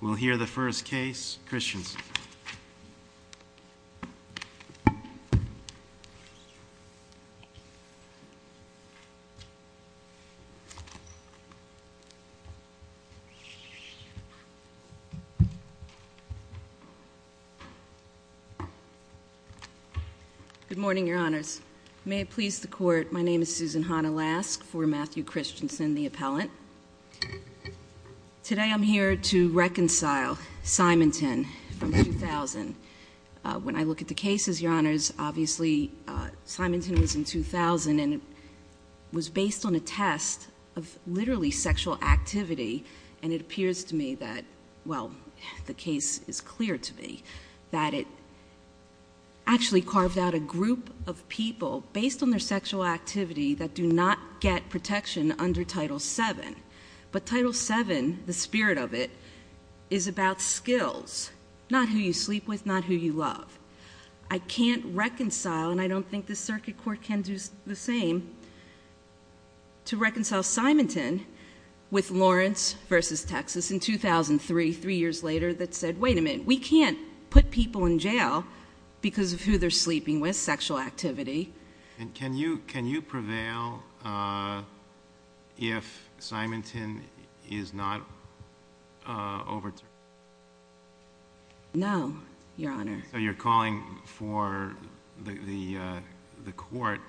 We'll hear the first case, Christiansen. Good morning, your honors. May it please the court, my name is Susan Hanna-Lask for Matthew Christiansen, the appellant. Today I'm here to reconcile Simonton from 2000. When I look at the cases, your honors, obviously Simonton was in 2000 and was based on a test of literally sexual activity and it appears to me that, well, the case is clear to me, that it actually carved out a group of people based on their sexual activity that do not get protection under Title VII. But Title VII, the spirit of it, is about skills, not who you sleep with, not who you love. I can't reconcile, and I don't think the circuit court can do the same, to reconcile Simonton with Lawrence v. Texas in 2003, three years later, that said, wait a minute, we can't put people in jail because of who they're sleeping with, because of their sexual activity. Can you prevail if Simonton is not overturned? No, your honor. You're calling for the court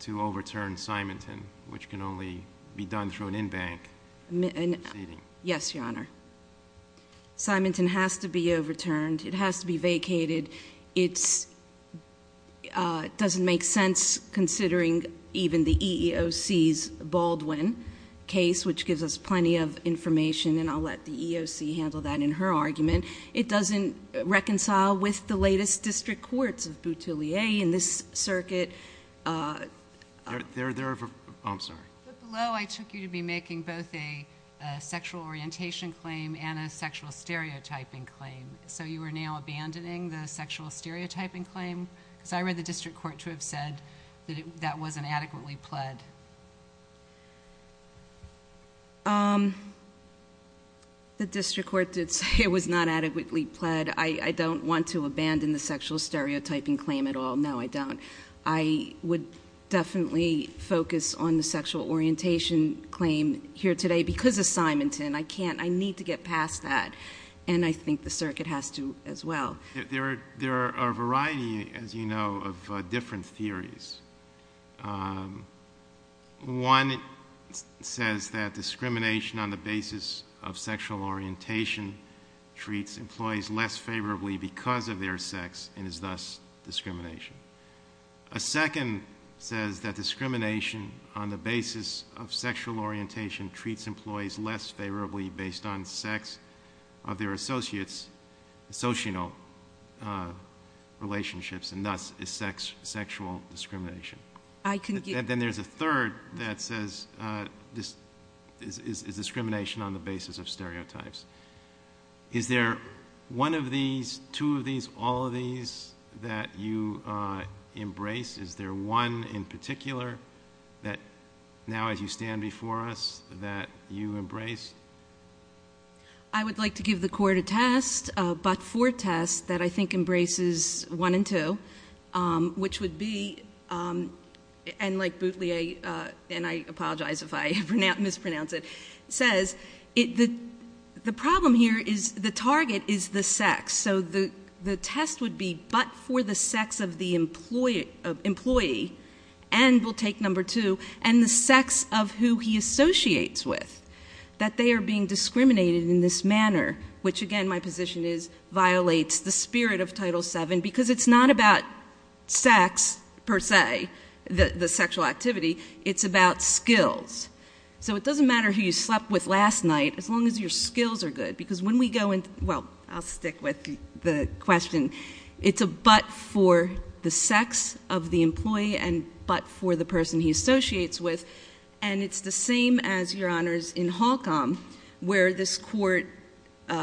to overturn Simonton, which can only be done through an in-bank proceeding? Yes, your honor. Simonton has to be overturned, it has to be vacated. It's, I mean, it's doesn't make sense considering even the EEOC's Baldwin case, which gives us plenty of information, and I'll let the EEOC handle that in her argument. It doesn't reconcile with the latest district courts of Boutillier in this circuit. There are, there are, oh, I'm sorry. But below, I took you to be making both a sexual orientation claim and a sexual stereotyping claim. So you are now abandoning the sexual stereotyping claim? Because I read the district court to have said that that wasn't adequately pled. The district court did say it was not adequately pled. I don't want to abandon the sexual stereotyping claim at all. No, I don't. I would definitely focus on the sexual orientation claim here today because of Simonton. I can't, I need to get past that, and I think the circuit has to as well. There are a variety, as you know, of different theories. One says that discrimination on the basis of sexual orientation treats employees less favorably because of their sex and is thus discrimination. A second says that discrimination on the basis of sexual orientation treats employees less favorably based on sex of their associates, social relationships, and thus is sexual discrimination. Then there's a third that says this is discrimination on the basis of stereotypes. Is there one of these, two of these, all of these that you embrace? Is there one in particular that now as you stand before us that you embrace? I would like to give the court a test, a but-for test that I think embraces one and two, which would be, and like Boutelier, and I apologize if I mispronounce it, says the problem here is the target is the sex. So the test would be but for the sex of the employee, and we'll take number two, and the sex of who he associates with, that they are being discriminated in this manner, which again my position is violates the spirit of Title VII because it's not about sex, per se, the sexual activity. It's about skills. So it doesn't matter who you slept with last night as long as your skills are good because when we go in, well, I'll stick with the question. It's a but for the sex of the employee and but for the person he associates with, and it's the same as, Your Honors, in Holcomb where this court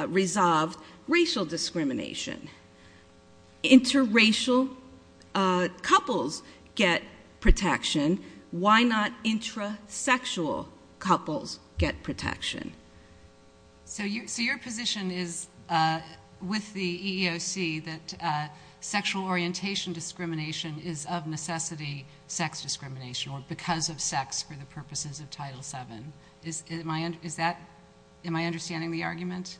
resolved racial discrimination. Interracial couples get protection. Why not intrasexual couples get protection? So your position is with the EEOC that sexual orientation discrimination is of necessity sex discrimination or because of sex for the purposes of Title VII. Am I understanding the argument?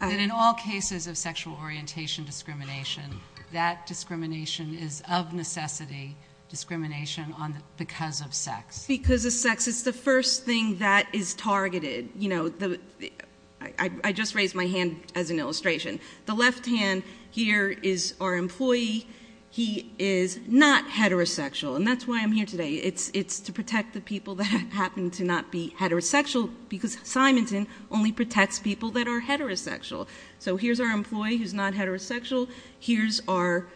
That in all cases of sexual orientation discrimination, that discrimination is of necessity discrimination because of sex. Because of sex. It's the first thing that is targeted. I just raised my hand as an illustration. The left hand here is our employee. He is not heterosexual and that's why I'm here today. It's to protect the people that happen to not be heterosexual because Simonton only protects people that are heterosexual. So here's our employee who's not heterosexual. Here's our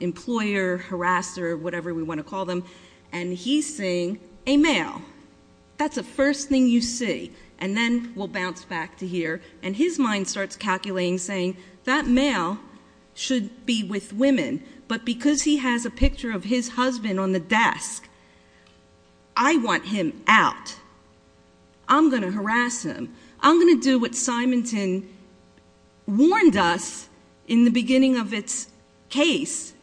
employer, harasser, whatever we want to call them, and he's seeing a male. That's the first thing you see. And then we'll bounce back to here and his mind starts calculating saying that male should be with women, but because he has a picture of his husband on the desk, I want him out. I'm going to harass him. I'm going to do what Simonton warned us in the beginning of its case.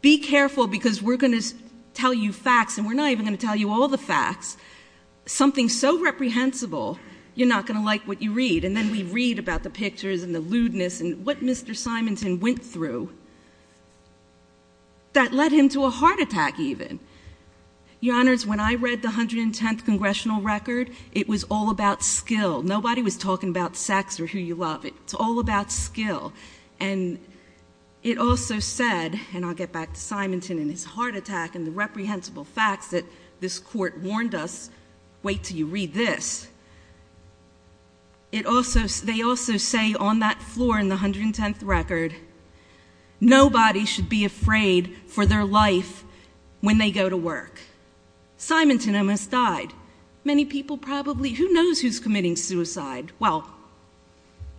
Be careful because we're going to tell you facts and we're not even going to tell you all the facts. Something so reprehensible, you're not going to like what you read. And then we read about the pictures and the lewdness and what Mr. Simonton went through that led him to a heart attack even. Your Honors, when I read the 110th congressional record, it was all about skill. Nobody was talking about sex or who you love. It's all about skill. And it also said, and I'll get back to Simonton and his family, they also say on that floor in the 110th record, nobody should be afraid for their life when they go to work. Simonton almost died. Many people probably, who knows who's committing suicide? Well,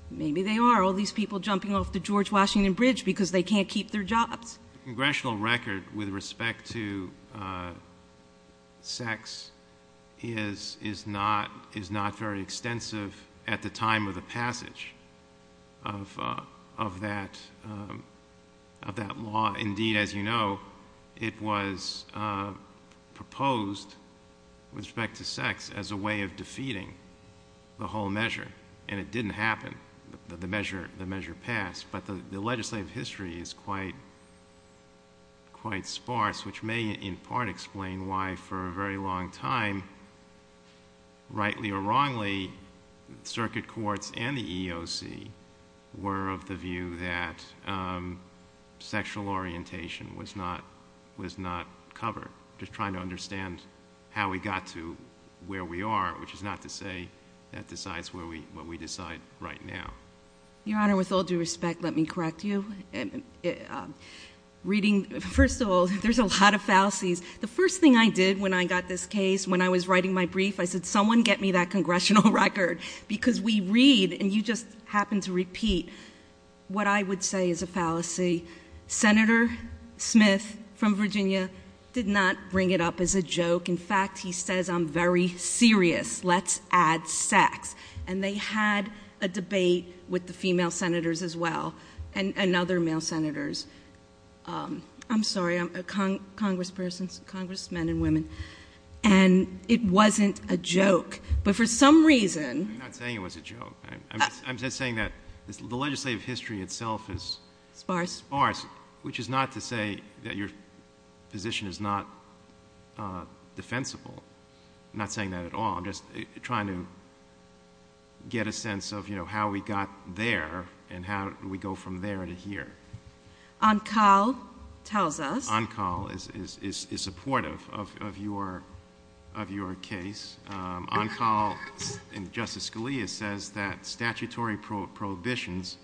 maybe they are, all these people jumping off the George Washington Bridge because they can't keep their jobs. The congressional record with respect to sex is not very extensive. It's not very clear at the time of the passage of that law. Indeed, as you know, it was proposed with respect to sex as a way of defeating the whole measure. And it didn't happen. The measure passed. But the legislative history is quite sparse, which may in part explain why for a very long time, rightly or wrongly, circuit courts and the EEOC were of the view that sexual orientation was not covered. Just trying to understand how we got to where we are, which is not to say that decides what we decide right now. Your Honor, with all due respect, let me correct you. First of all, there's a lot of fallacies. The first thing I did when I got this case, when I was writing my brief, I said, someone get me that congressional record. Because we read, and you just happened to repeat, what I would say is a fallacy. Senator Smith from Virginia did not bring it up as a joke. In fact, he says I'm very serious. Let's add sex. And they had a debate with the female senators. I'm sorry, congresspersons, congressmen and women. And it wasn't a joke. But for some reason... I'm not saying it was a joke. I'm just saying that the legislative history itself is sparse. Which is not to say that your position is not defensible. I'm not saying that at all. I'm just trying to get a sense of how we got there and how we go from there to here. On call tells us... On call is supportive of your case. On call, and Justice Scalia says that statutory prohibitions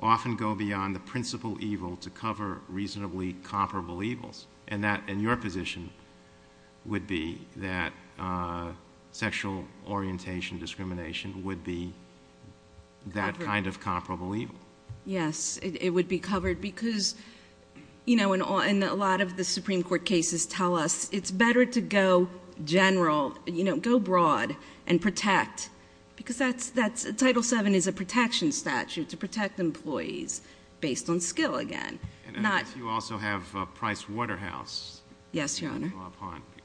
often go beyond the principal evil to cover reasonably comparable evils. And your position would be that sexual orientation discrimination would be that kind of comparable evil. Yes. It would be covered. Because a lot of the Supreme Court cases tell us it's better to go general, go broad, and protect. Because Title VII is a protection statute to protect employees based on skill again. And I guess you also have Price Waterhouse. Yes, your honor.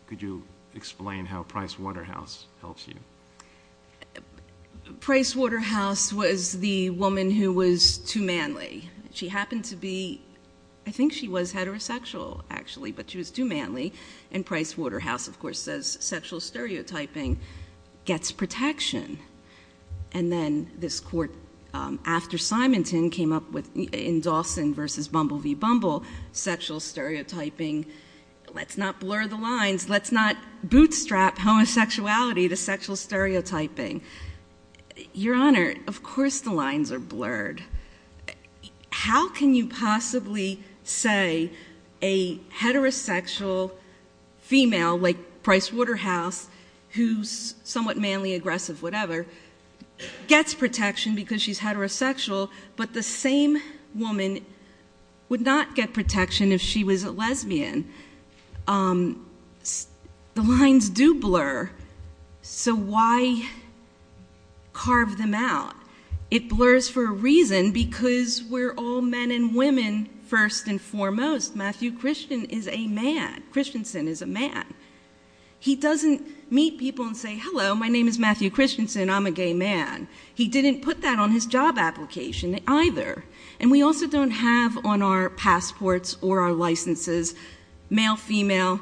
Could you explain how Price Waterhouse helps you? Price Waterhouse was the woman who was too manly. She happened to be... I think she was heterosexual, actually, but she was too manly. And Price Waterhouse, of course, says sexual stereotyping gets protection. And then this court, after Simonton, came up with, in Dawson v. Bumble v. Bumble, sexual stereotyping. Let's not blur the lines. Let's not bootstrap homosexuality to sexual stereotyping. Your honor, of course the lines are blurred. How can you possibly say a heterosexual female like Price Waterhouse, who's somewhat manly, aggressive, whatever, gets protection because she's heterosexual, but the same woman would not get protection if she was a lesbian? The lines do blur, so why carve them out? It blurs for a reason, because we're all men and women, first and foremost. Matthew Christensen is a man. He doesn't meet people and say, hello, my name is Matthew Christensen. I'm a gay man. He didn't put that on his job application either. And we also don't have on our passports or our licenses, male, female,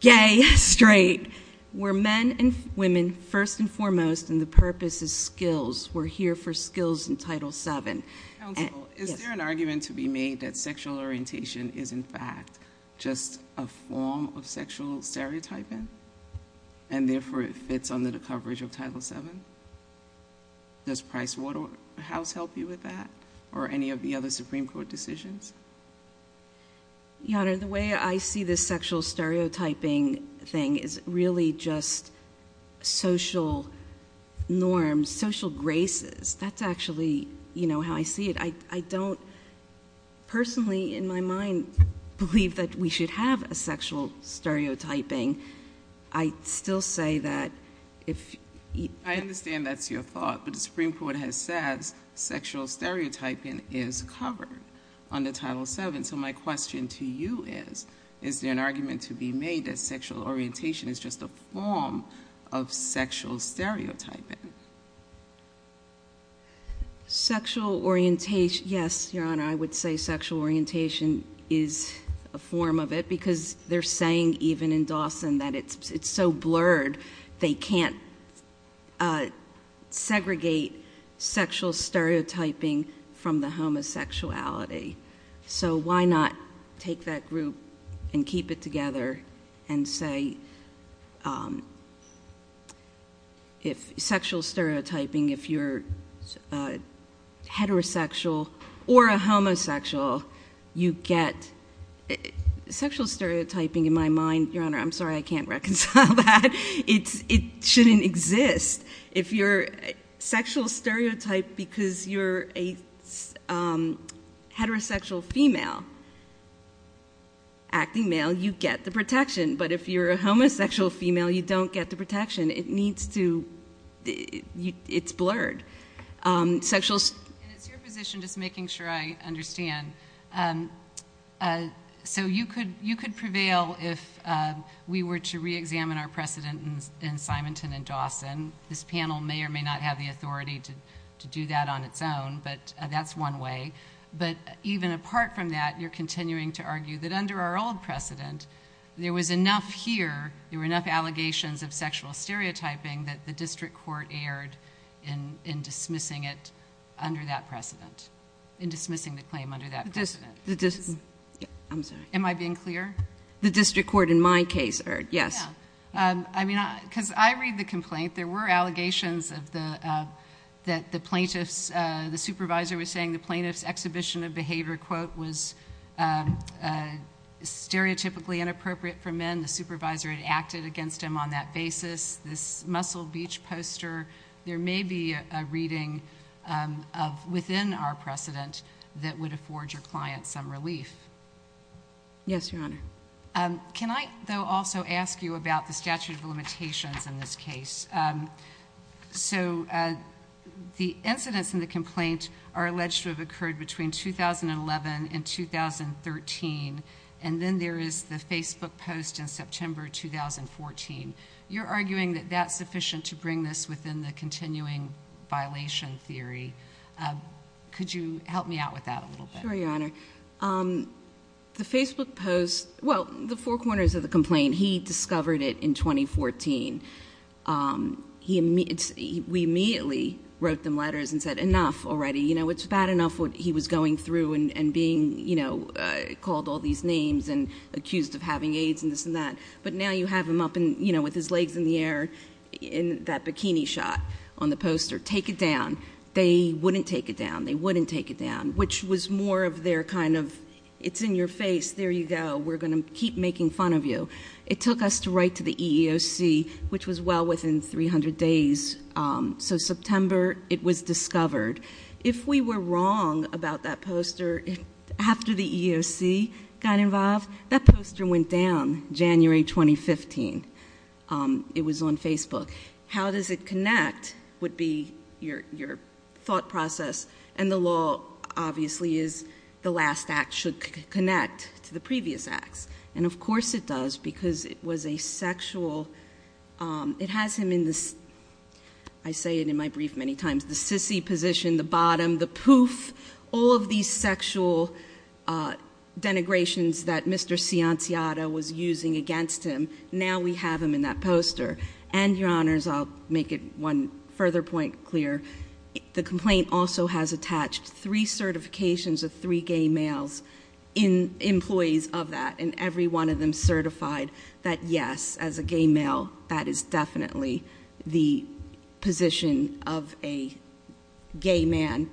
gay, straight. We're men and women, first and foremost, and the purpose is skills. We're here for skills in Title VII. Counsel, is there an argument to be made that sexual orientation is, in fact, just a form of sexual stereotyping, and therefore it fits under the coverage of Title VII? Does Price Waterhouse help you with that, or any of the other Supreme Court decisions? Your honor, the way I see this sexual stereotyping thing is really just social norms, social graces. That's actually how I see it. I don't personally, in my mind, believe that we should have a sexual stereotyping. I still say that if... I understand that's your thought, but the Supreme Court has said sexual stereotyping is covered under Title VII. So my question to you is, is there an argument to be made that sexual orientation is just a form of sexual stereotyping? Sexual orientation, yes, your honor. I would say sexual orientation is a form of it, because they're saying, even in Dawson, that it's so blurred. They can't segregate sexual stereotyping from the homosexuality. So why not take that group and keep it together and say, if sexual stereotyping, if you're heterosexual or a homosexual, you get... Sexual stereotyping, in my mind, your honor, I'm sorry, I can't reconcile that. It shouldn't exist. If you're sexual stereotyped because you're a heterosexual female, acting male, you get the protection. But if you're a homosexual female, you don't get the protection. It needs to... It's blurred. And it's your position, just making sure I understand. So you could prevail if we were to reexamine our precedent in Symington and Dawson. This panel may or may not have the authority to do that on its own, but that's one way. But even apart from that, you're enough here, there were enough allegations of sexual stereotyping that the district court erred in dismissing it under that precedent, in dismissing the claim under that precedent. Am I being clear? The district court, in my case, erred, yes. Yeah. I mean, because I read the complaint. There were allegations that the plaintiff's... The supervisor was saying the plaintiff's exhibition of behavior, quote, was stereotypically inappropriate for men. The supervisor had acted against him on that basis. This muscled beach poster, there may be a reading within our precedent that would afford your client some relief. Yes, Your Honor. Can I, though, also ask you about the statute of limitations in this case? So the incidents in the complaint are alleged to have occurred between 2011 and 2013, and then there is the Facebook post in September 2014. You're arguing that that's sufficient to bring this within the continuing violation theory. Could you help me out with that a little bit? Sure, Your Honor. The Facebook post, well, the four corners of the complaint, he discovered it in 2014. We immediately wrote them letters and said, enough already. You know, it's bad enough what he was going through and being, you know, called all these names and accused of having AIDS and this and that, but now you have him up and, you know, with his legs in the air in that bikini shot on the poster. Take it down. They wouldn't take it down. They wouldn't take it down, which was more of their kind of, it's in your face, there you go, we're going to keep making fun of you. It took us to write to the EEOC, which was well within 300 days. So September, it was discovered. If we were wrong about that poster, after the EEOC got involved, that poster went down January 2015. It was on Facebook. How does it connect would be your thought process, and the law obviously is the last act should connect to the previous acts. And of course it does, because it was a sexual, it has him in the, I say it in my brief many times, the sissy position, the bottom, the poof, all of these sexual denigrations that Mr. Cianciotta was using against him, now we have him in that poster. And your honors, I'll make it one further point clear, the gay males, employees of that, and every one of them certified that yes, as a gay male, that is definitely the position of a gay man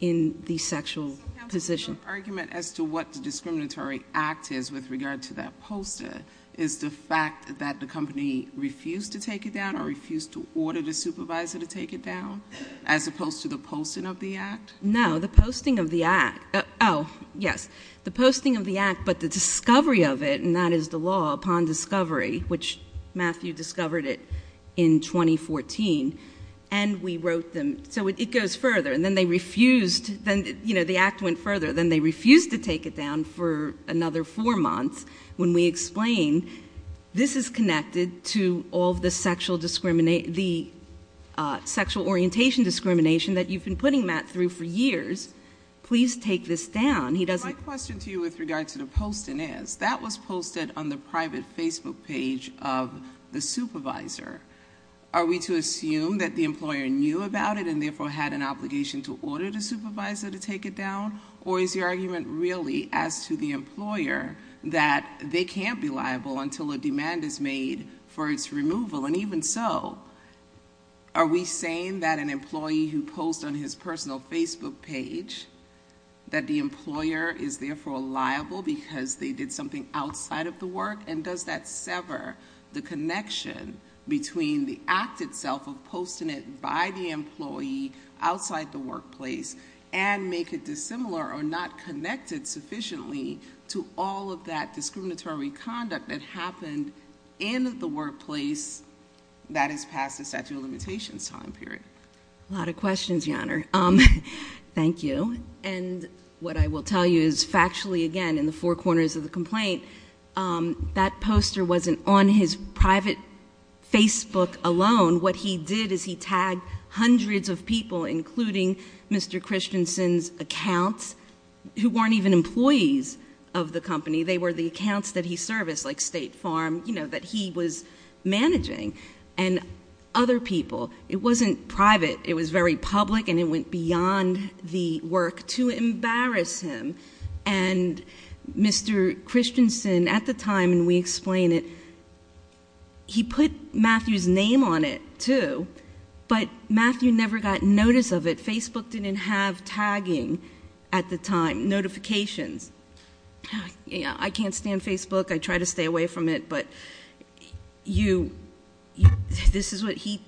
in the sexual position. So counsel, your argument as to what the discriminatory act is with regard to that poster is the fact that the company refused to take it down, or refused to order the supervisor to take it down, as opposed to the posting of the act? No, the posting of the act, oh yes, the posting of the act, but the discovery of it, and that is the law upon discovery, which Matthew discovered it in 2014, and we wrote them, so it goes further, and then they refused, then the act went further, then they refused to take it down for another four months, when we explain this is connected to all of the sexual discrimination, the sexual orientation discrimination that you've been putting Matt through for years, please take this down, he doesn't- My question to you with regard to the posting is, that was posted on the private Facebook page of the supervisor, are we to assume that the employer knew about it, and therefore had an obligation to order the supervisor to take it down, or is your argument really as to the employer, that they can't be liable until a demand is made for its removal, and even so, are we saying that an employee who posts on his personal Facebook page, that the employer is therefore liable because they did something outside of the work, and does that sever the connection between the act itself of posting it by the employee outside the workplace, and make it dissimilar or not connected sufficiently to all of that discriminatory conduct that happened in the workplace that is past the statute of limitations time period? A lot of questions, Your Honor. Thank you. And what I will tell you is, factually, again, in the four corners of the complaint, that poster wasn't on his private Facebook alone, what he did is he tagged hundreds of people, including Mr. Christensen's accounts, who were in the service, like State Farm, you know, that he was managing, and other people. It wasn't private. It was very public, and it went beyond the work to embarrass him, and Mr. Christensen, at the time, and we explain it, he put Matthew's name on it, too, but Matthew never got notice of it. Facebook didn't have tagging at the time, notifications. I can't stand Facebook. I try to stay away from it, but you, this is what he,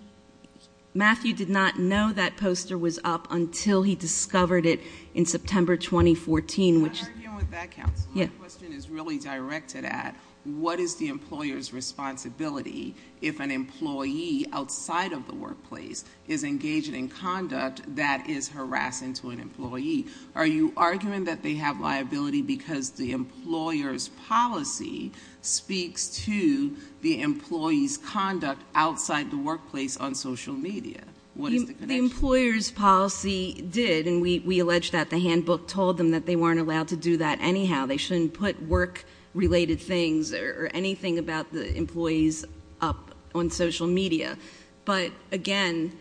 Matthew did not know that poster was up until he discovered it in September 2014, which I'm arguing with that counsel. My question is really directed at what is the employer's responsibility if an employee outside of the workplace is engaged in conduct that is harassing to an employee? Are you arguing that they have liability because the employer's policy speaks to the employee's conduct outside the workplace on social media? What is the connection? The employer's policy did, and we allege that the handbook told them that they weren't allowed to do that anyhow. They shouldn't put work-related things or anything about the employees up on social media, but again,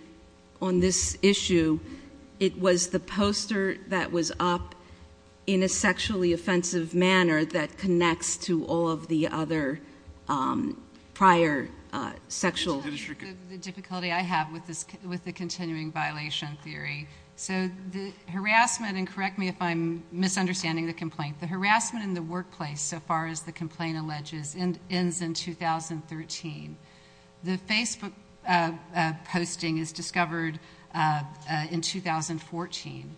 on this issue, it was the poster that was up in a sexually offensive manner that connects to all of the other prior sexual... The difficulty I have with the continuing violation theory, so the harassment, and correct me if I'm misunderstanding the complaint, the harassment in the workplace, so far as the complaint alleges, ends in 2013. The Facebook posting is discovered in 2014.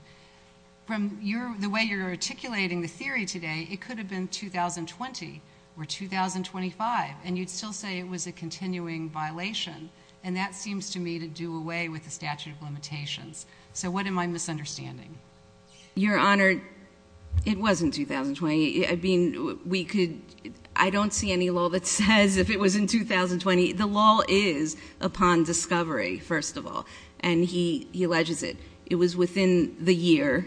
From the way you're articulating the theory today, it could have been 2020 or 2025, and you'd still say it was a continuing violation, and that seems to me to do away with the statute of limitations. So what am I misunderstanding? Your Honor, it was in 2020. I don't see any law that says if it was in 2020. The law is upon discovery, first of all, and he alleges it. It was within the year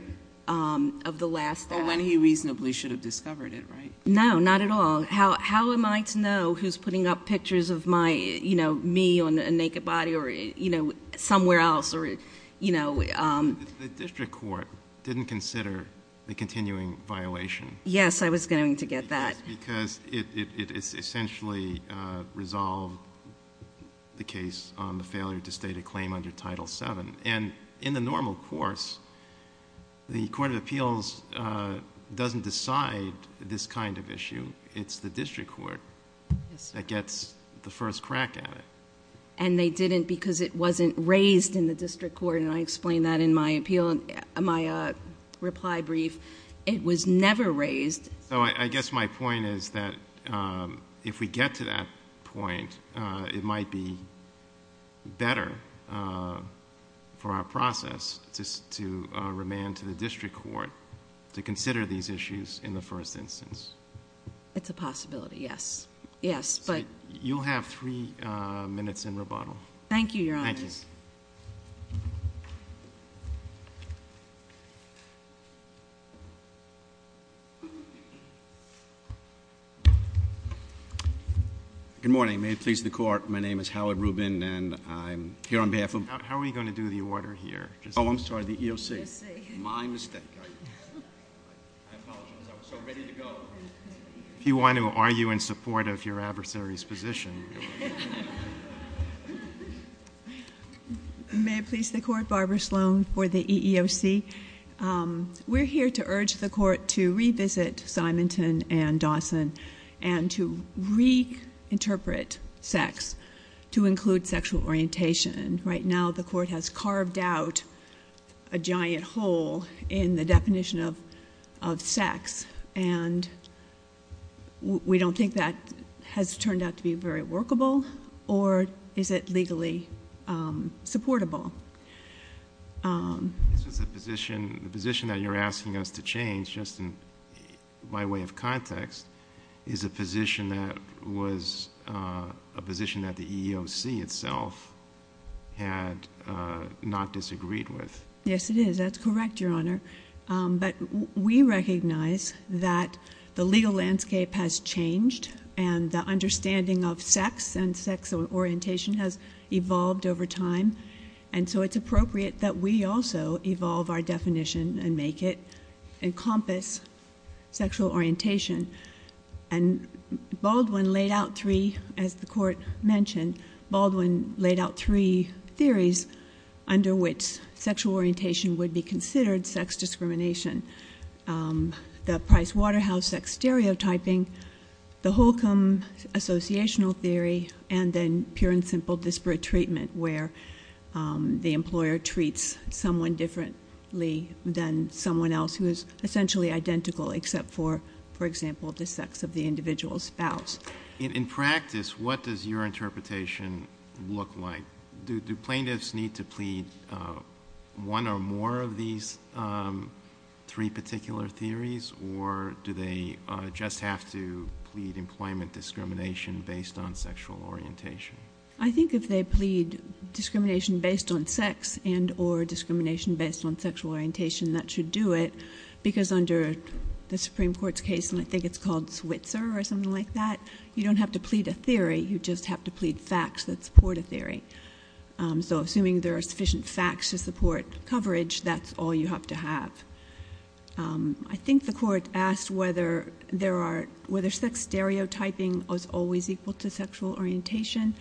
of the last... Well, when he reasonably should have discovered it, right? No, not at all. How am I to know who's putting up pictures of me on a naked body or somewhere else? The district court didn't consider the continuing violation. Yes, I was going to get that. Because it essentially resolved the case on the failure to state a claim under Title VII, and in the normal course, the Court of Appeals doesn't decide this kind of issue. It's the district court that gets the first crack at it. And they didn't because it wasn't raised in the district court, and I explained that in my reply brief. It was never raised. So I guess my point is that if we get to that point, it might be better for our process to remand to the district court to consider these issues in the first instance. It's a possibility, yes. You'll have three minutes in rebuttal. Thank you, Your Honor. Good morning. May it please the Court, my name is Howard Rubin, and I'm here on behalf of... How are we going to do the order here? Oh, I'm sorry, the EOC. My mistake. I apologize. I was so ready to go. If you want to argue in support of your adversary's position... May it please the Court, Barbara Sloan for the EEOC. We're here to urge the Court to revisit Symington and Dawson and to reinterpret sex to include sexual orientation. Right now, the Court has carved out a giant hole in the definition of sex and the definition of sex. We don't think that has turned out to be very workable, or is it legally supportable? The position that you're asking us to change, just in my way of context, is a position that was a position that the EEOC itself had not disagreed with. Yes, it is. That's correct, Your Honor. But we recognize that the legal landscape has changed and the understanding of sex and sex orientation has evolved over time. And so it's appropriate that we also evolve our definition and make it encompass sexual orientation. And Baldwin laid out three, as the Court mentioned, Baldwin laid out three theories under which sexual orientation would be considered sex discrimination. The Price-Waterhouse sex stereotyping, the Holcomb associational theory, and then pure and simple disparate treatment, where the employer treats someone differently than someone else who is essentially identical except for, for example, the sex of the individual's spouse. In practice, what does your interpretation look like? Do plaintiffs need to plead one or more of these three particular theories, or do they just have to plead employment discrimination based on sexual orientation? I think if they plead discrimination based on sex and or discrimination based on sexual orientation, that should do it, because under the Supreme Court's case, and I think it's called Switzer or something like that, you don't have to plead a theory, you just have to plead facts that support a theory. So assuming there are sufficient facts to support coverage, that's all you have to have. I think the Court asked whether there are, whether sex stereotyping is always equal to sexual orientation.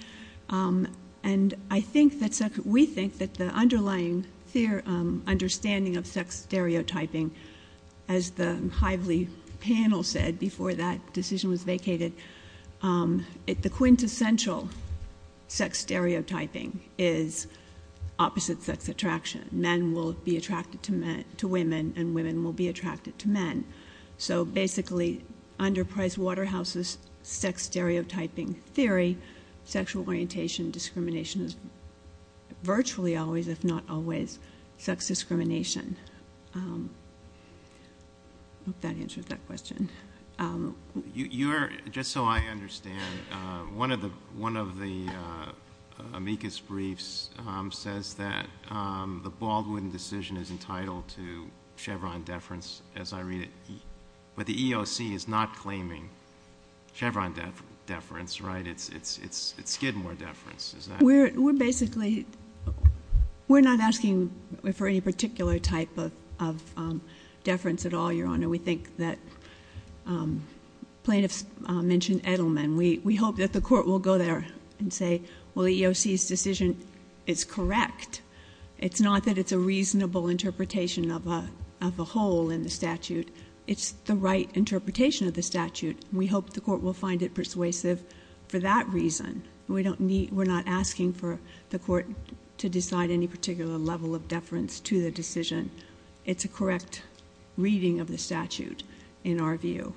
And I think that, we think that the underlying understanding of sex stereotyping, as the Hively panel said before that decision was vacated, the quintessential sex stereotyping is opposite sex attraction. Men will be attracted to men, to women, and women will be attracted to men. So basically, under Price Waterhouse's sex stereotyping theory, sexual orientation discrimination is virtually always, if not always, sex discrimination. I hope that answers that question. Just so I understand, one of the amicus briefs says that the Baldwin decision is entitled to Chevron deference, as I read it, but the EOC is not claiming Chevron deference, right? It's Skidmore deference, is that right? We're not asking for any particular type of deference at all, Your Honor. We think that, plaintiffs mentioned Edelman. We hope that the Court will go there and say, well, the EOC's decision is correct. It's not that it's a reasonable interpretation of a whole in the statute, it's the right interpretation of the statute. We hope the Court will find it persuasive for that reason. We're not asking for the Court to decide any particular level of deference to the decision. It's a correct reading of the statute, in our view.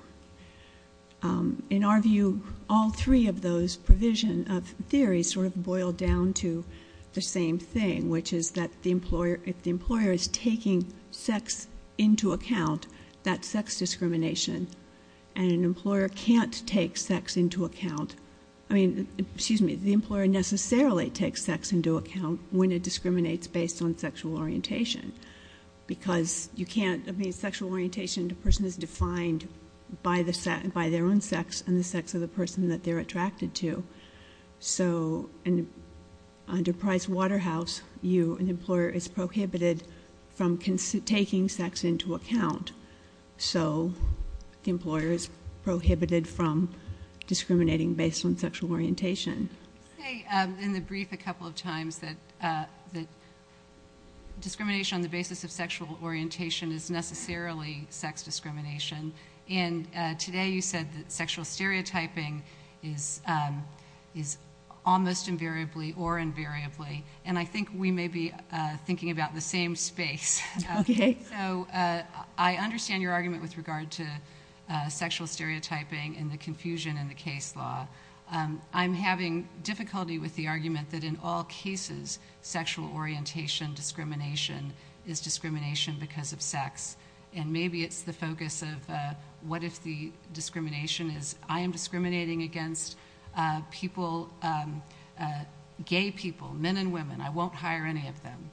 In our view, all three of those provision of theory sort of boil down to the same thing, which is that if the employer is taking sex into account, that's sex discrimination, and an employer can't take sex into account. I mean, excuse me, the employer necessarily takes sex into account when it discriminates based on sexual orientation. Because you can't, I mean, sexual orientation to a person is defined by their own sex and the sex of the person that they're attracted to. So, under Price-Waterhouse, you, an employer, is prohibited from taking sex into account. So, the employer is prohibited from discriminating based on sexual orientation. Okay. In the brief a couple of times that discrimination on the basis of sexual orientation is necessarily sex discrimination, and today you said that sexual stereotyping is almost invariably or invariably, and I think we may be thinking about the same space. Okay. So, I understand your argument with regard to sexual stereotyping and the confusion in the case law. I'm having difficulty with the argument that in all cases, sexual orientation discrimination is discrimination because of sex, and maybe it's the focus of what if the gay people, men and women, I won't hire any of them,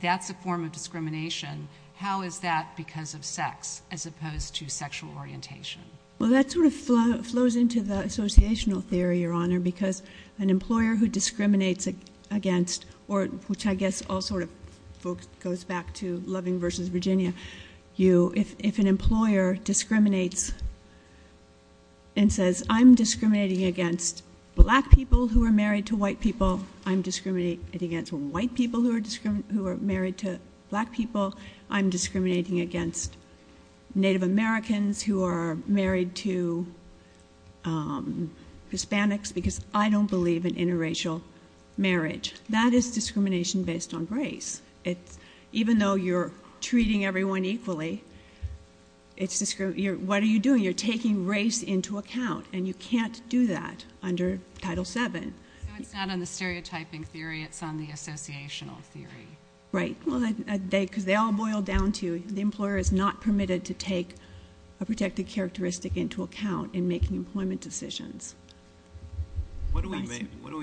that's a form of discrimination. How is that because of sex as opposed to sexual orientation? Well, that sort of flows into the associational theory, Your Honor, because an employer who discriminates against, or which I guess all sort of folks goes back to Loving v. Virginia, you if an employer discriminates and says, I'm discriminating against black people who are married to white people, I'm discriminating against white people who are married to black people, I'm discriminating against Native Americans who are married to Hispanics because I don't believe in interracial marriage. That is discrimination based on race. Even though you're treating everyone equally, what are you doing? You're taking race into account, and you can't do that under Title VII. So, it's not on the stereotyping theory. It's on the associational theory. Right. Well, because they all boil down to the employer is not permitted to take a protected characteristic into account in making employment decisions. What do we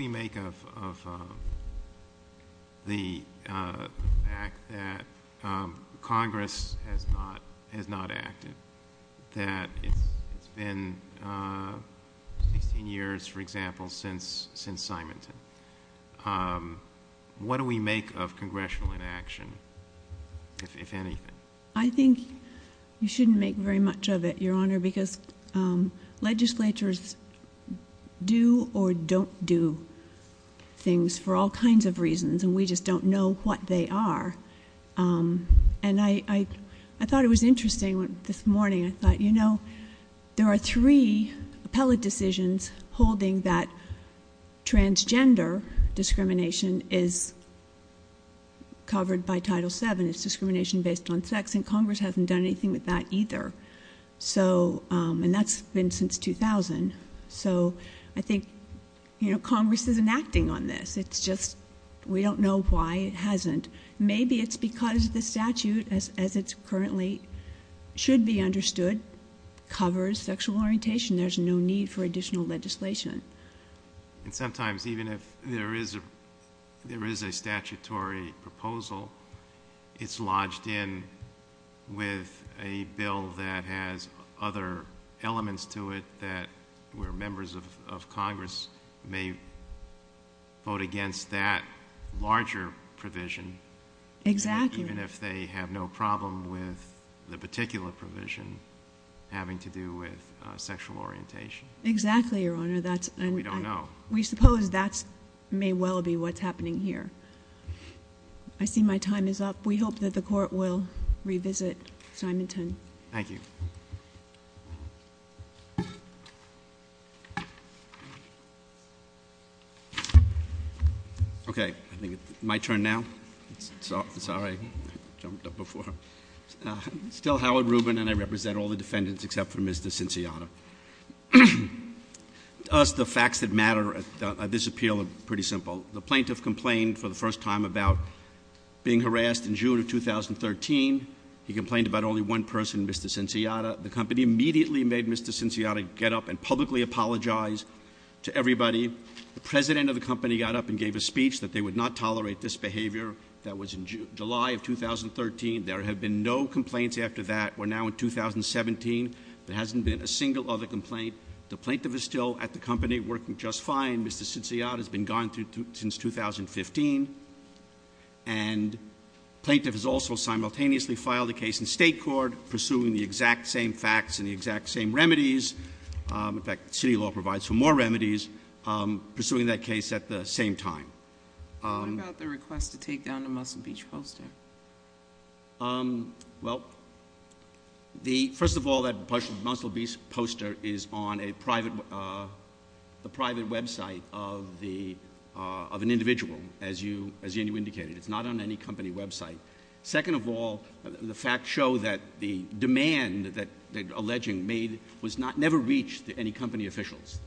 make of the fact that Congress has not acted, that it's been 16 years, for example, since Simonton? What do we make of congressional inaction, if anything? I think you shouldn't make very much of it, Your Honor, because legislatures do or don't do things for all kinds of reasons, and we just don't know what they are. And I thought it was interesting this morning. I thought, you know, there are three appellate decisions holding that transgender discrimination is covered by Title VII. It's discrimination based on sex, and Congress hasn't done anything with that either. And that's been since 2000. So, I think Congress isn't acting on this. It's just we don't know why it hasn't. Maybe it's because the statute, as it currently should be understood, covers sexual orientation. There's no need for additional legislation. And sometimes, even if there is a statutory proposal, it's lodged in with a bill that has other elements to it that where members of Congress may vote against that larger provision. Exactly. Even if they have no problem with the particular provision having to do with sexual orientation. Exactly, Your Honor. And we don't know. We suppose that may well be what's happening here. I see my time is up. We hope that the Court will revisit Simonton. Thank you. Okay. I think it's my turn now. Sorry, I jumped up before. I'm still Howard Rubin, and I represent all the defendants except for Mr. Cinciotta. To us, the facts that matter at this appeal are pretty simple. The plaintiff complained for the first time about being harassed in June of 2013. He complained about only one person, Mr. Cinciotta. The company immediately made Mr. Cinciotta get up and publicly apologize to everybody. The president of the company got up and gave a speech that they would not tolerate this behavior. That was in July of 2013. There have been no complaints after that. We're now in 2017. There hasn't been a single other complaint. The plaintiff is still at the company working just fine. Mr. Cinciotta has been gone since 2015. And the plaintiff has also simultaneously filed a case in state court pursuing the exact same facts and the exact same remedies. In fact, city law provides for more remedies, pursuing that case at the same time. What about the request to take down the Muscle Beach poster? Well, first of all, that Muscle Beach poster is on a private website of an individual, as you indicated. It's not on any company website. Second of all, the facts show that the demand that they're alleging was never reached to any company officials.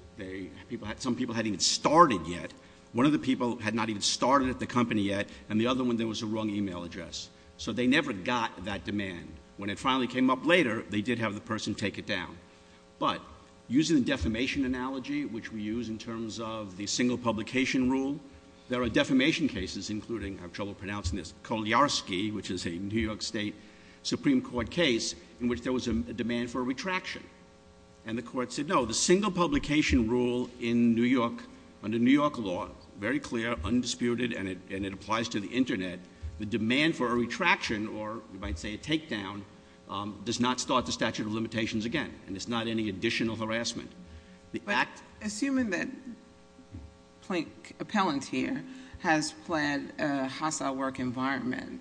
Some people hadn't even started yet. One of the people had not even started at the company yet, and the other one, there was a wrong email address. So they never got that demand. When it finally came up later, they did have the person take it down. But using the defamation analogy, which we use in terms of the single publication rule, there are defamation cases, including — I have trouble pronouncing this — Koliarsky, which is a New York State Supreme Court case in which there was a demand for a retraction. And the court said, no, the single publication rule in New York, under New York law, very clear, undisputed, and it applies to the Internet, the demand for a retraction, or you might say a takedown, does not start the statute of limitations again, and it's not any additional harassment. But assuming that Plink Appellant here has pled a hostile work environment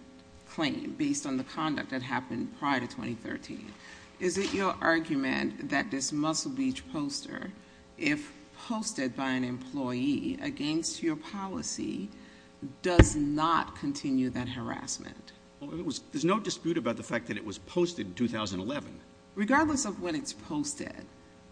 claim based on the conduct that happened prior to 2013, is it your argument that this Muscle Beach poster, if posted by an employee against your policy, does not continue that harassment? Well, there's no dispute about the fact that it was posted in 2011. Regardless of when it's posted,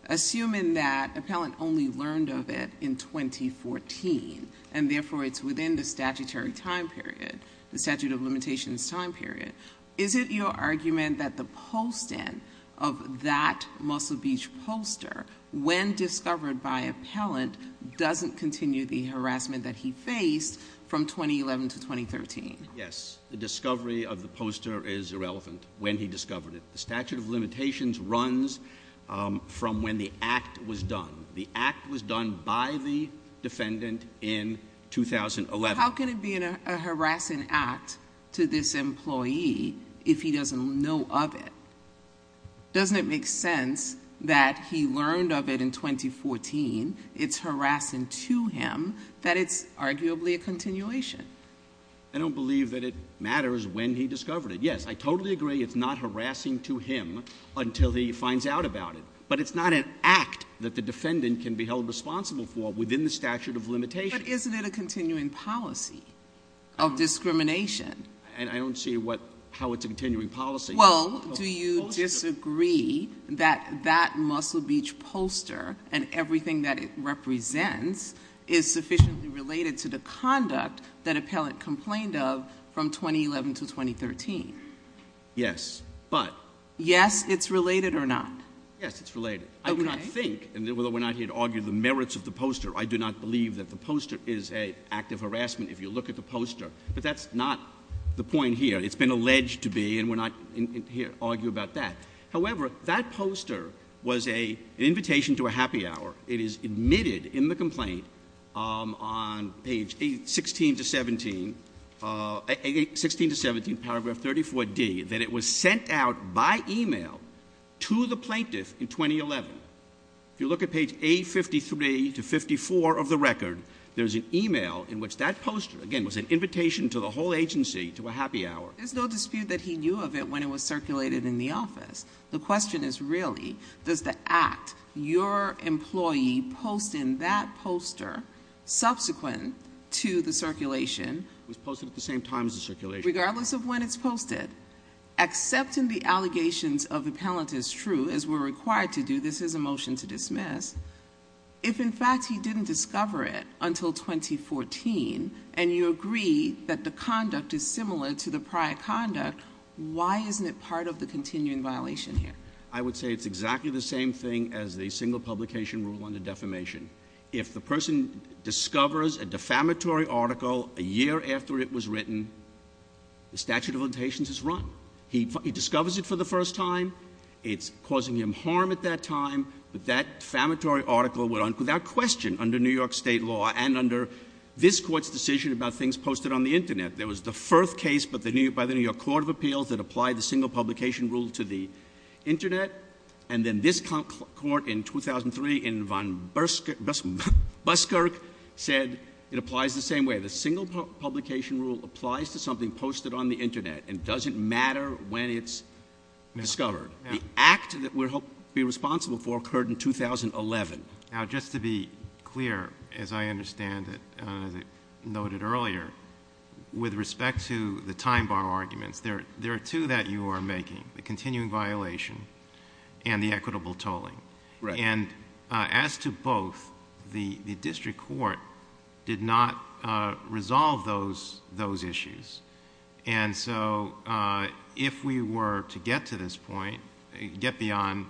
assuming that Appellant only learned of it in 2014, and therefore it's within the statutory time period, the statute of limitations time period, is it your argument that the post-in of that Muscle Beach poster, when discovered by Appellant, doesn't continue the harassment that he faced from 2011 to 2013? Yes. The discovery of the poster is irrelevant when he discovered it. The statute of limitations runs from when the act was done. The act was done by the defendant in 2013. How can it be a harassing act to this employee if he doesn't know of it? Doesn't it make sense that he learned of it in 2014, it's harassing to him, that it's arguably a continuation? I don't believe that it matters when he discovered it. Yes, I totally agree it's not harassing to him until he finds out about it. But it's not an act that the defendant can be held responsible for within the statute of limitations. But isn't it a continuing policy of discrimination? And I don't see how it's a continuing policy. Well, do you disagree that that Muscle Beach poster and everything that it represents is sufficiently related to the conduct that Appellant complained of from 2011 to 2013? Yes, but- Yes, it's related or not? Yes, it's related. I would not think, and although we're not here to argue the merits of the poster, I do not believe that the poster is an act of harassment if you look at the poster. But that's not the point here. It's been alleged to be and we're not here to argue about that. However, that poster was an invitation to a happy hour. It is admitted in the complaint on page 16 to 17, paragraph 34D, that it was sent out by email to the record. There's an email in which that poster, again, was an invitation to the whole agency to a happy hour. There's no dispute that he knew of it when it was circulated in the office. The question is really, does the act, your employee posting that poster subsequent to the circulation- It was posted at the same time as the circulation. Regardless of when it's posted, except in the allegations of Appellant is true, as we're In fact, he didn't discover it until 2014 and you agree that the conduct is similar to the prior conduct. Why isn't it part of the continuing violation here? I would say it's exactly the same thing as the single publication rule under defamation. If the person discovers a defamatory article a year after it was written, the statute of limitations is run. He discovers it for the first time, it's causing him harm at that time, but that defamatory article went on without question under New York State law and under this court's decision about things posted on the internet. There was the first case by the New York Court of Appeals that applied the single publication rule to the internet, and then this court in 2003 in von Buskirk said it applies the same way. The single publication rule applies to something posted on the internet and doesn't matter when it's discovered. The act that we're responsible for occurred in 2011. Now, just to be clear, as I understand it, as I noted earlier, with respect to the time bar arguments, there are two that you are making, the continuing violation and the equitable tolling. As to both, the district court did not resolve those issues. If we were to get to this point, get beyond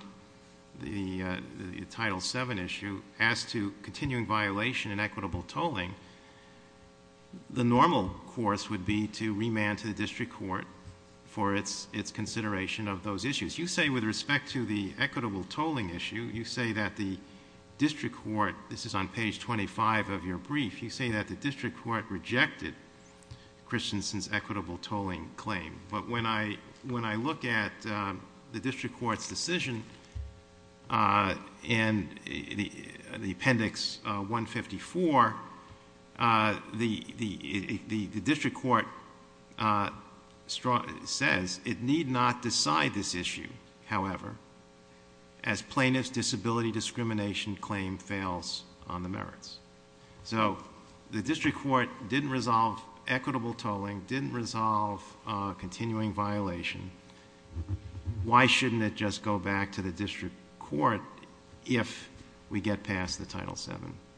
the Title VII issue, as to continuing violation and equitable tolling, the normal course would be to remand to the district court for its consideration of those issues. You say with respect to the equitable tolling issue, you say that the district court, this is on page 25 of your brief, you say that the district court rejected Christensen's equitable tolling claim, but when I look at the district court's decision in the appendix 154, the district court says it need not decide this issue, however, as plaintiff's disability discrimination claim fails on the merits. So, the district court didn't resolve equitable tolling, didn't resolve continuing violation. Why shouldn't it just go back to the district court if we get past the Title VII?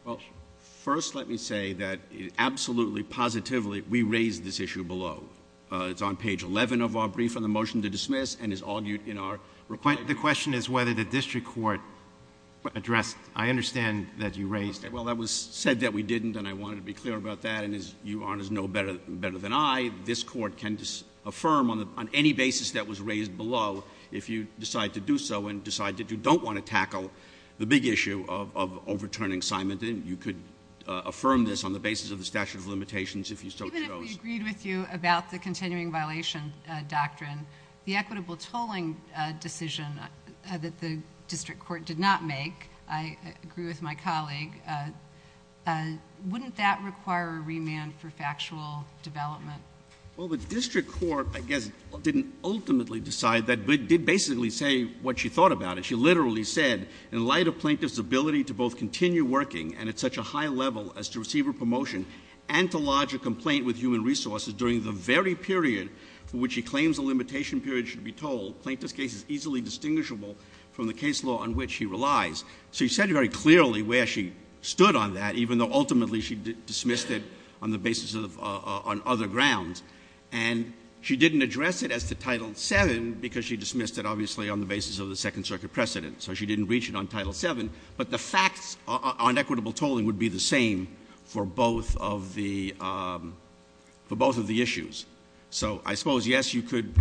Well, first let me say that absolutely, positively, we raised this issue below. It's on page 11 of our brief on the motion to dismiss and is argued in our report. The question is whether the district court addressed, I understand that you raised it. Well, that was said that we didn't and I wanted to be clear about that and as you honors know better than I, this court can affirm on any basis that was raised below if you decide to do so and decide that you don't want to tackle the big issue of overturning assignment and you could affirm this on the basis of the statute of limitations if you so chose. Even if we agreed with you about the continuing violation doctrine, the equitable tolling decision that the district court did not make, I agree with my colleague, wouldn't that require a remand for factual development? Well, the district court, I guess, didn't ultimately decide that but did basically say what she thought about it. She literally said, in light of plaintiff's ability to both continue working and at such a high level as to receive her promotion and to lodge a complaint with human resources during the very period for which she claims a limitation period should be told, plaintiff's case is easily distinguishable from the case law on which she relies. So she said very clearly where she stood on that even though ultimately she dismissed it on the basis of other grounds and she didn't address it as to Title VII because she dismissed it obviously on the basis of the Second Circuit precedent. So she didn't reach it on Title VII but the facts on equitable tolling would be the same for both of the issues. So I suppose, yes, you could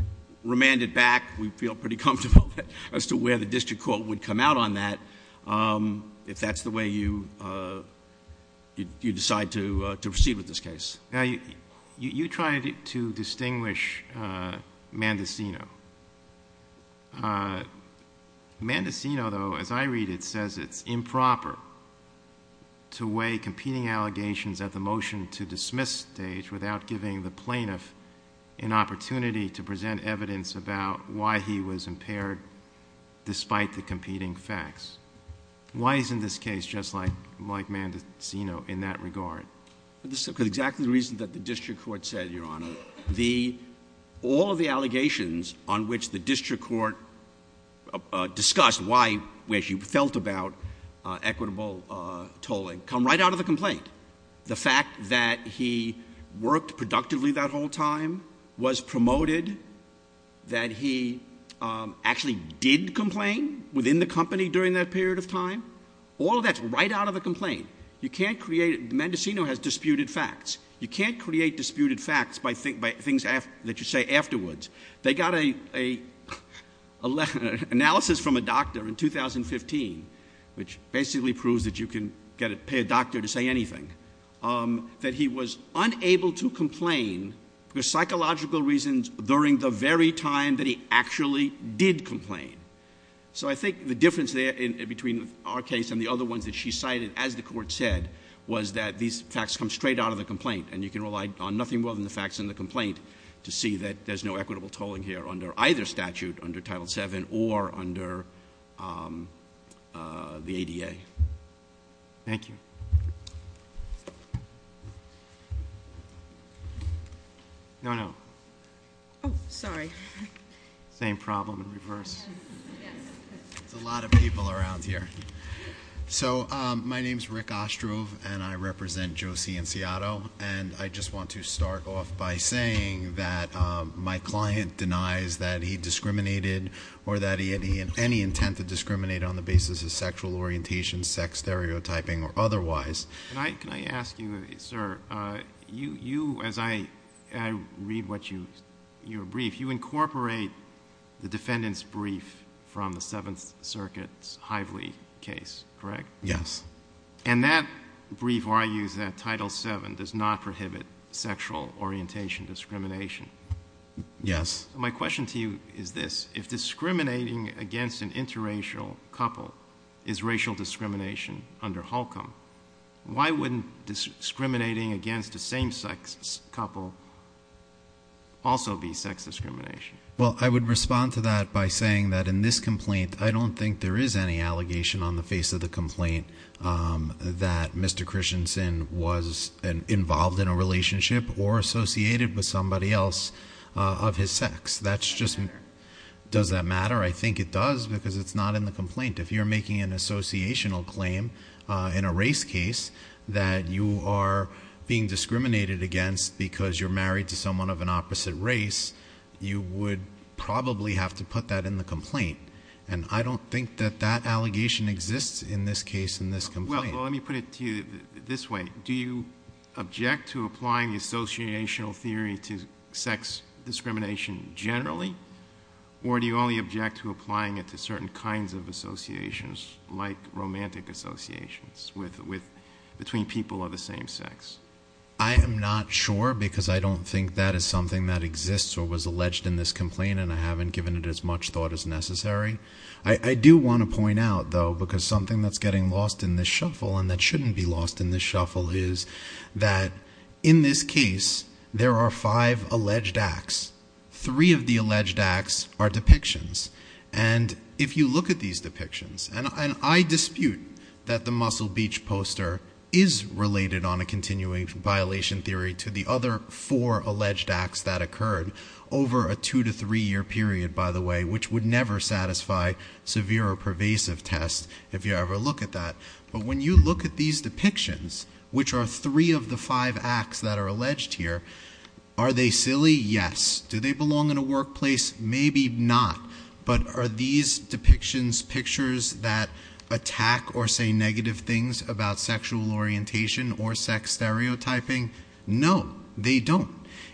remand it back. We feel pretty comfortable as to where the district court would come out on that if that's the way you decide to proceed with this case. You tried to distinguish Mandicino. Mandicino, though, as I read it, says it's improper to in opportunity to present evidence about why he was impaired despite the competing facts. Why isn't this case just like Mandicino in that regard? Because exactly the reason that the district court said, Your Honor. All of the allegations on which the district court discussed why she felt about equitable tolling come right out of the complaint. The fact that he worked productively that whole time, was promoted, that he actually did complain within the company during that period of time, all of that's right out of the complaint. You can't create, Mandicino has disputed facts. You can't create disputed facts by things that you say afterwards. They got an analysis from a doctor in 2015 which basically proves that you can pay a doctor to say anything, that he was unable to complain for psychological reasons during the very time that he actually did complain. So I think the difference there between our case and the other ones that she cited as the court said was that these facts come straight out of the complaint and you can rely on nothing more than the facts in the complaint to see that there's no equitable tolling here under either statute, under Title VII or under the ADA. Thank you. No, no. Oh, sorry. Same problem in reverse. There's a lot of people around here. So my name's Rick Ostrove and I represent JOSI in Seattle and I just want to start off by saying that my client denies that he discriminated or that he had any intent to discriminate on the basis of sexual orientation, sex stereotyping or otherwise. Can I ask you, sir, you, as I read what you, your brief, you incorporate the defendant's brief from the Seventh Circuit's Hively case, correct? Yes. And that brief argues that Title VII does not prohibit sexual orientation discrimination. Yes. My question to you is this. If discriminating against an interracial couple is racial discrimination under Holcomb, why wouldn't discriminating against the same sex couple also be sex discrimination? Well, I would respond to that by saying that in this complaint, I don't think there is any allegation on the face of the complaint that Mr. Christensen was involved in a relationship or associated with somebody else of his sex. Does that matter? I think it does because it's not in the complaint. If you're making an associational claim in a race case that you are being discriminated against because you're married to someone of an opposite race, you would probably have to put that in the complaint. And I don't think that that allegation exists in this case, in this complaint. Well, let me put it to you this way. Do you object to applying the associational theory to sex discrimination generally? Or do you only object to applying it to certain kinds of associations, like romantic associations between people of the same sex? I am not sure because I don't think that is something that exists or was alleged in this case. I do want to point out, though, because something that's getting lost in this shuffle and that shouldn't be lost in this shuffle is that in this case, there are five alleged acts. Three of the alleged acts are depictions. And if you look at these depictions, and I dispute that the Muscle Beach poster is related on a continuing violation theory to the other four alleged acts that occurred over a two to three year period, by the way, which would never satisfy severe or pervasive tests, if you ever look at that. But when you look at these depictions, which are three of the five acts that are alleged here, are they silly? Yes. Do they belong in a workplace? Maybe not. But are these depictions pictures that attack or say negative things about sexual orientation or sex stereotyping? No, they don't.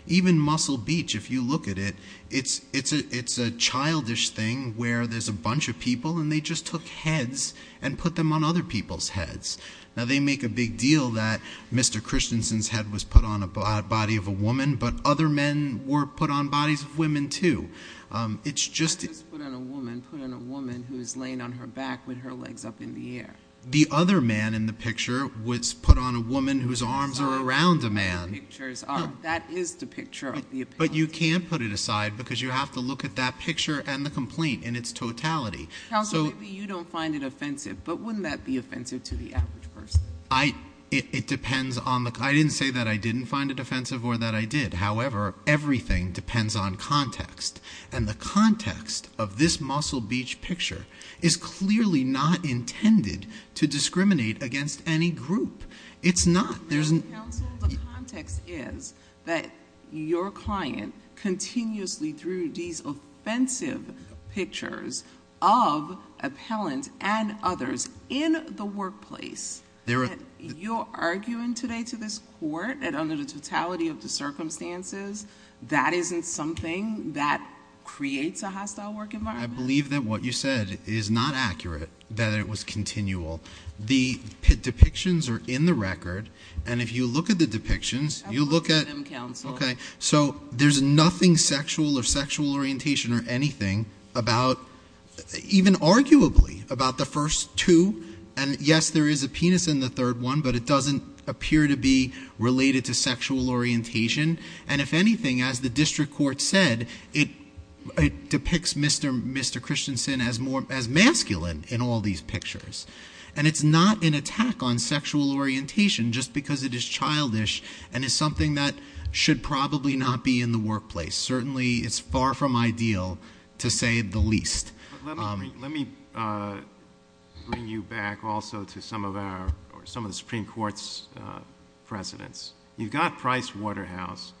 Even Muscle Beach, if you look at it, it's a childish thing where there's a bunch of people and they just took heads and put them on other people's heads. Now, they make a big deal that Mr. Christensen's head was put on a body of a woman, but other men were put on bodies of women, too. It's just... Not just put on a woman, put on a woman who's laying on her back with her legs up in the air. The other man in the picture was put on a woman whose arms are around a man. Those pictures are... That is the picture of the offense. But you can't put it aside, because you have to look at that picture and the complaint in its totality. Counsel, maybe you don't find it offensive, but wouldn't that be offensive to the average person? It depends on the... I didn't say that I didn't find it offensive or that I did. However, everything depends on context. And the context of this Muscle Beach picture is clearly not intended to discriminate against any group. It's not. Counsel, the context is that your client continuously threw these offensive pictures of appellant and others in the workplace. You're arguing today to this court that under the totality of the circumstances, that isn't something that creates a hostile work environment? I believe that what you said is not accurate, that it was continual. The depictions are in the record. And if you look at the depictions, you look at... I'll go to them, Counsel. So there's nothing sexual or sexual orientation or anything about, even arguably, about the first two. And yes, there is a penis in the third one, but it doesn't appear to be related to sexual orientation. And if anything, as the district court said, it depicts Mr. Christensen as masculine in all these pictures. And it's not an attack on sexual orientation just because it is childish and is something that should probably not be in the workplace. Certainly, it's far from ideal, to say the least. Let me bring you back also to some of the Supreme Court's precedents. You've got Price Waterhouse.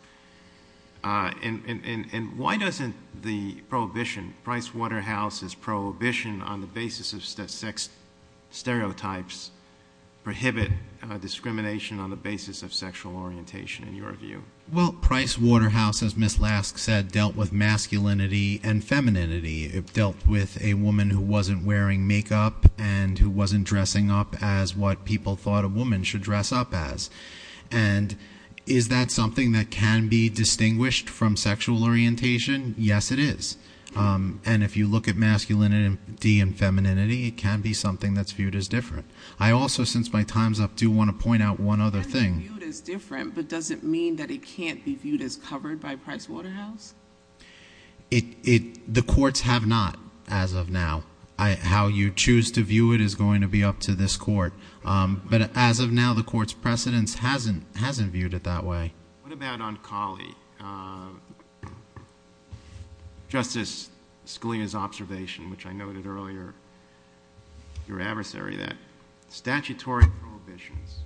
Isn't the prohibition, Price Waterhouse's prohibition on the basis of sex stereotypes prohibit discrimination on the basis of sexual orientation, in your view? Well, Price Waterhouse, as Ms. Lask said, dealt with masculinity and femininity. It dealt with a woman who wasn't wearing makeup and who wasn't dressing up as what people thought a woman should dress up as. And is that something that can be distinguished from sexual orientation? Yes, it is. And if you look at masculinity and femininity, it can be something that's viewed as different. I also, since my time's up, do want to point out one other thing. It can be viewed as different, but does it mean that it can't be viewed as covered by Price Waterhouse? The courts have not, as of now. How you choose to view it is going to be up to this court. But as of now, the court's precedents hasn't viewed it that way. What about on Collie? Justice Scalia's observation, which I noted earlier, your adversary, that statutory prohibitions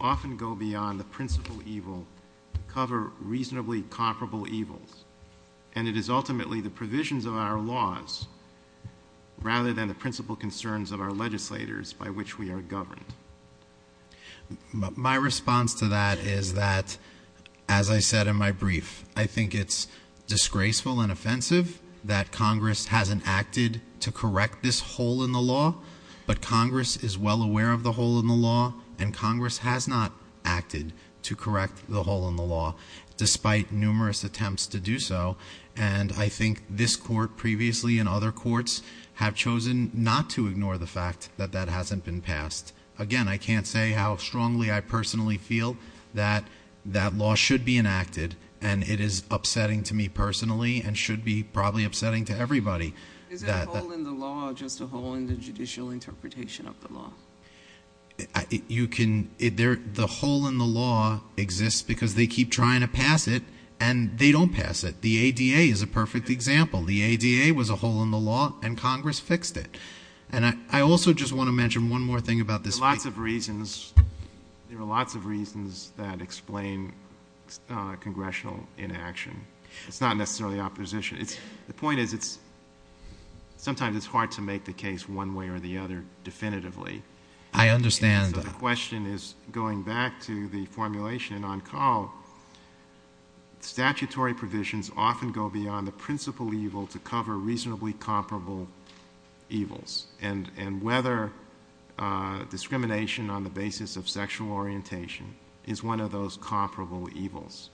often go beyond the principal evil to cover reasonably comparable evils. And it is ultimately the provisions of our laws rather than the principal concerns of our legislators by which we are governed. My response to that is that, as I said in my brief, I think it's disgraceful and offensive that Congress hasn't acted to correct this hole in the law. But Congress is well aware of the hole in the law, and Congress has not acted to correct the hole in the law, despite numerous attempts to do so. And I think this court previously and other courts have chosen not to ignore the fact that that hasn't been passed. Again, I can't say how strongly I personally feel that that law should be enacted, and it is upsetting to me personally and should be probably upsetting to everybody. Is that hole in the law just a hole in the judicial interpretation of the law? The hole in the law exists because they keep trying to pass it, and they don't pass it. The ADA is a perfect example. The ADA was a hole in the law, and Congress fixed it. And I also just want to mention one more thing about this brief. There are lots of reasons that explain congressional inaction. It's not necessarily opposition. The point is, sometimes it's hard to make the case one way or the other definitively. I understand. The question is, going back to the formulation on Carl, statutory provisions often go beyond the principal evil to cover reasonably comparable evils, and whether discrimination on the basis of sexual orientation is one of those comparable evils.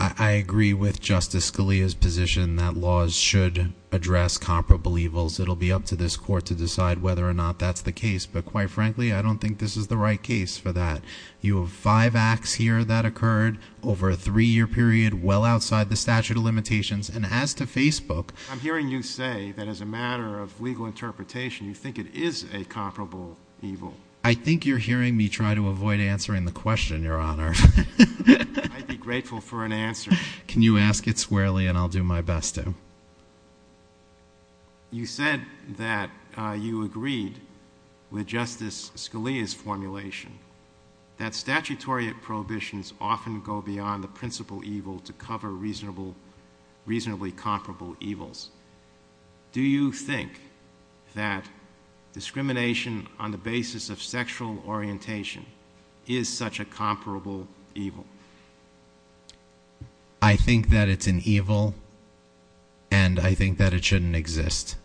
I agree with Justice Scalia's position that laws should address comparable evils. It'll be up to this court to decide whether or not that's the case. But quite frankly, I don't think this is the right case for that. You have five acts here that occurred over a three-year period well outside the statute of limitations. And as to Facebook... I'm hearing you say that as a matter of legal interpretation, you think it is a comparable evil. I think you're hearing me try to avoid answering the question, Your Honor. I'd be grateful for an answer. Can you ask it squarely, and I'll do my best to. Your Honor, you said that you agreed with Justice Scalia's formulation that statutory prohibitions often go beyond the principal evil to cover reasonably comparable evils. Do you think that discrimination on the basis of sexual orientation is such a comparable evil? I think that it's an evil, and I think that it shouldn't exist.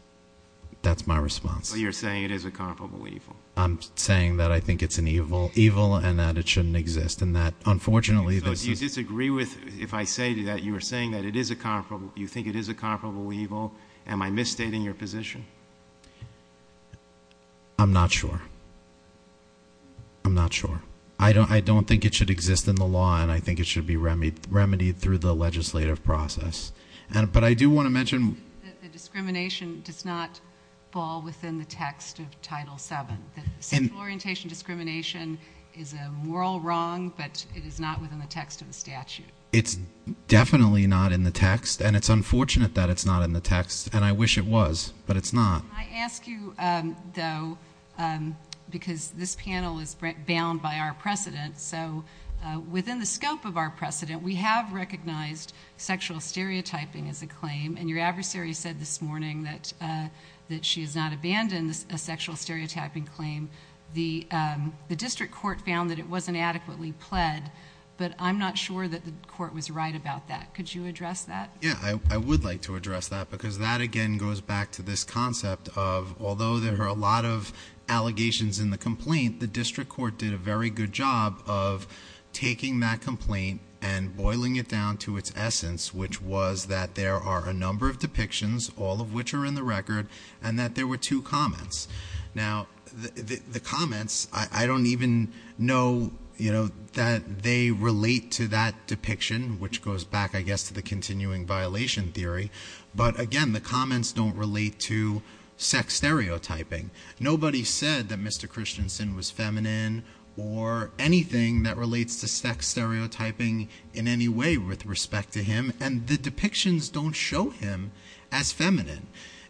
That's my response. So you're saying it is a comparable evil? I'm saying that I think it's an evil, and that it shouldn't exist. And that, unfortunately... So do you disagree with... If I say that you are saying that it is a comparable... You think it is a comparable evil, am I misstating your position? I'm not sure. I'm not sure. I don't think it should exist in the law, and I think it should be remedied through the legislative process. But I do want to mention... The discrimination does not fall within the text of Title VII. Sexual orientation discrimination is a moral wrong, but it is not within the text of the statute. It's definitely not in the text, and it's unfortunate that it's not in the text, and I wish it was, but it's not. Can I ask you, though, because this panel is bound by our precedent, so within the scope of our precedent, we have recognized sexual stereotyping as a claim, and your adversary said this morning that she has not abandoned a sexual stereotyping claim. The district court found that it wasn't adequately pled, but I'm not sure that the court was right about that. Could you address that? Yeah, I would like to address that, because that, again, goes back to this concept of, although there are a lot of allegations in the complaint, the district court did a very good job of taking that complaint and boiling it down to its essence, which was that there are a number of depictions, all of which are in the record, and that there were two comments. Now, the comments, I don't even know that they relate to that depiction, which goes back, I guess, to the continuing violation theory, but again, the comments don't relate to sex stereotyping. Nobody said that Mr. Christensen was feminine or anything that relates to sex stereotyping in any way with respect to him, and the depictions don't show him as feminine,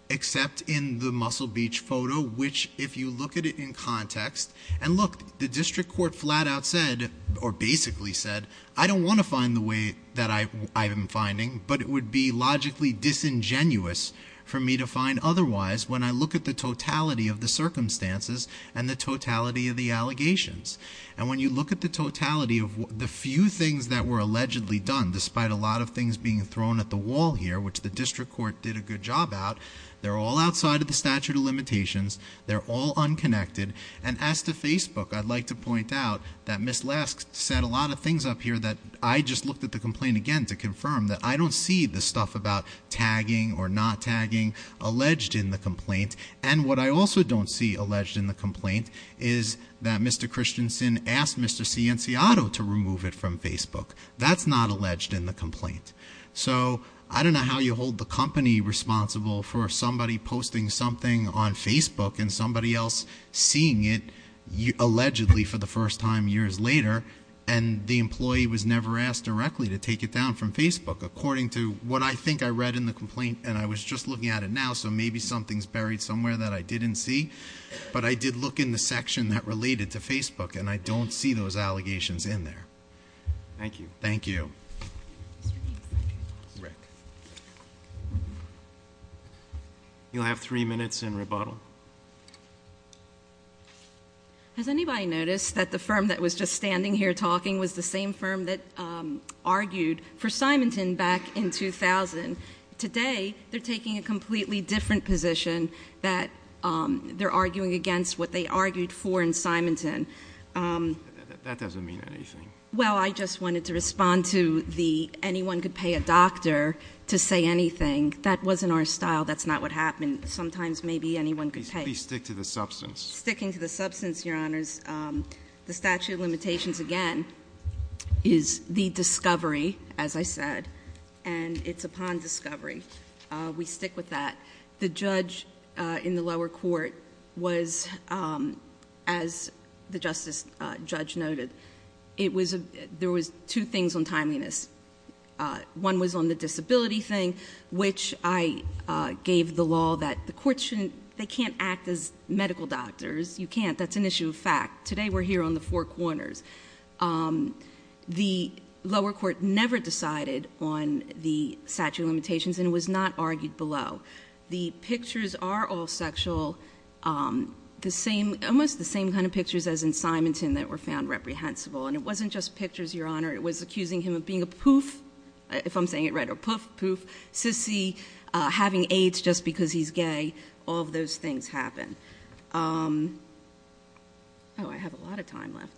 except in the Muscle Beach photo, which, if you look at it in context, and look, the district court flat out said, or basically said, I don't want to find the way that I am finding, but it would be logically disingenuous for me to find otherwise when I look at the totality of the circumstances and the totality of the allegations. And when you look at the totality of the few things that were allegedly done, despite a lot of things being thrown at the wall here, which the district court did a good job at, they're all outside of the statute of limitations, they're all unconnected, and as to Facebook, I'd like to point out that Ms. Lesk said a lot of things up here that I just looked at the complaint again to confirm that I don't see the stuff about tagging or not tagging alleged in the complaint, and what I also don't see alleged in the complaint is that Mr. Christensen asked Mr. Cianciato to remove it from Facebook. That's not alleged in the complaint. So, I don't know how you hold the company responsible for somebody posting something on Facebook and somebody else seeing it allegedly for the first time years later, and the employee was never asked directly to take it down from Facebook, according to what I think I read in the complaint, and I was just looking at it now, so maybe something's buried somewhere that I didn't see, but I did look in the section that related to Facebook, and I don't see those allegations in there. Thank you. Thank you. Rick. You'll have three minutes in rebuttal. Has anybody noticed that the firm that was just standing here talking was the same firm that argued for Symington back in 2000? Today, they're taking a completely different position that they're arguing against what they argued for in Symington. That doesn't mean anything. Well, I just wanted to respond to the anyone could pay a doctor to say anything. That wasn't our style. That's not what happened. Sometimes, maybe anyone could pay. Please stick to the substance. Sticking to the substance, Your Honors. The statute of limitations, again, is the discovery, as I said, and it's upon discovery. We stick with that. The judge in the lower court was, as the justice judge noted, there was two things on timeliness. One was on the disability thing, which I gave the law that the court shouldn't, they can't act as medical doctors. You can't. That's an issue of fact. Today, we're here on the four corners. The lower court never decided on the statute of limitations, and it was not argued below. The pictures are all sexual, almost the same kind of pictures as in Symington that were found reprehensible. It wasn't just pictures, Your Honor. It was accusing him of being a poof, if I'm saying it right, or poof, poof, sissy, having AIDS just because he's gay. All of those things happen. Oh, I have a lot of time left.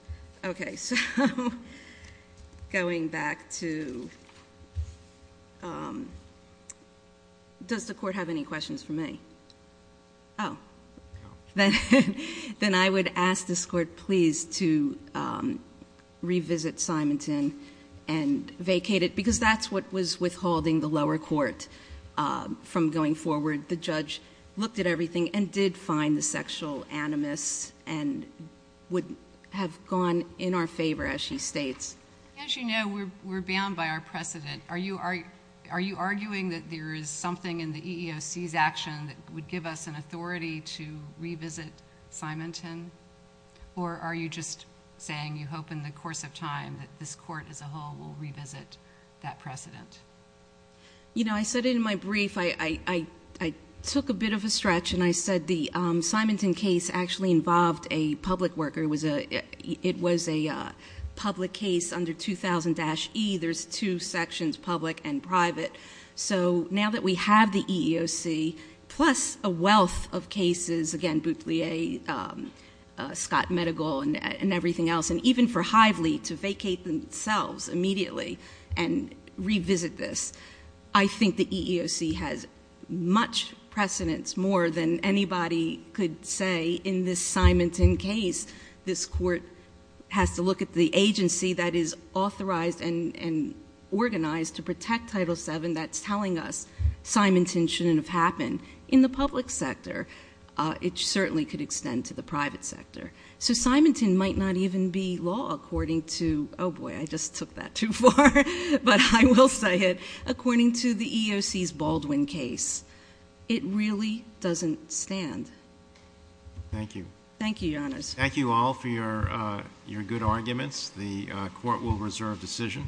Okay, so going back to... Does the court have any questions for me? Oh. Then I would ask this court, please, to revisit Symington and vacate it because that's what was withholding the lower court from going forward. The judge looked at everything and did find the sexual animus and would have gone in our favor, as she states. As you know, we're bound by our precedent. Are you arguing that there is something in the EEOC's action that would give us an authority to revisit Symington, or are you just saying you hope in the course of time that this court as a whole will revisit that precedent? I said it in my brief. I took a bit of a stretch and I said the Symington case actually involved a public worker. It was a public case under 2000-E. There's two sections, public and private. Now that we have the EEOC, plus a wealth of cases, again, Boutelier, Scott Medigol, and everything else, and even for Hively to vacate themselves immediately and revisit this, I think the EEOC has much precedence, more than anybody could say in this Symington case. This court has to look at the agency that is authorized and organized to protect Title VII. That's telling us Symington shouldn't have happened. In the public sector, it certainly could extend to the private sector. So Symington might not even be law according to, oh boy, I just took that too far, but I will say it, according to the EEOC's Baldwin case. It really doesn't stand. Thank you. Thank you, Your Honors. Thank you all for your good arguments. The court will reserve decision.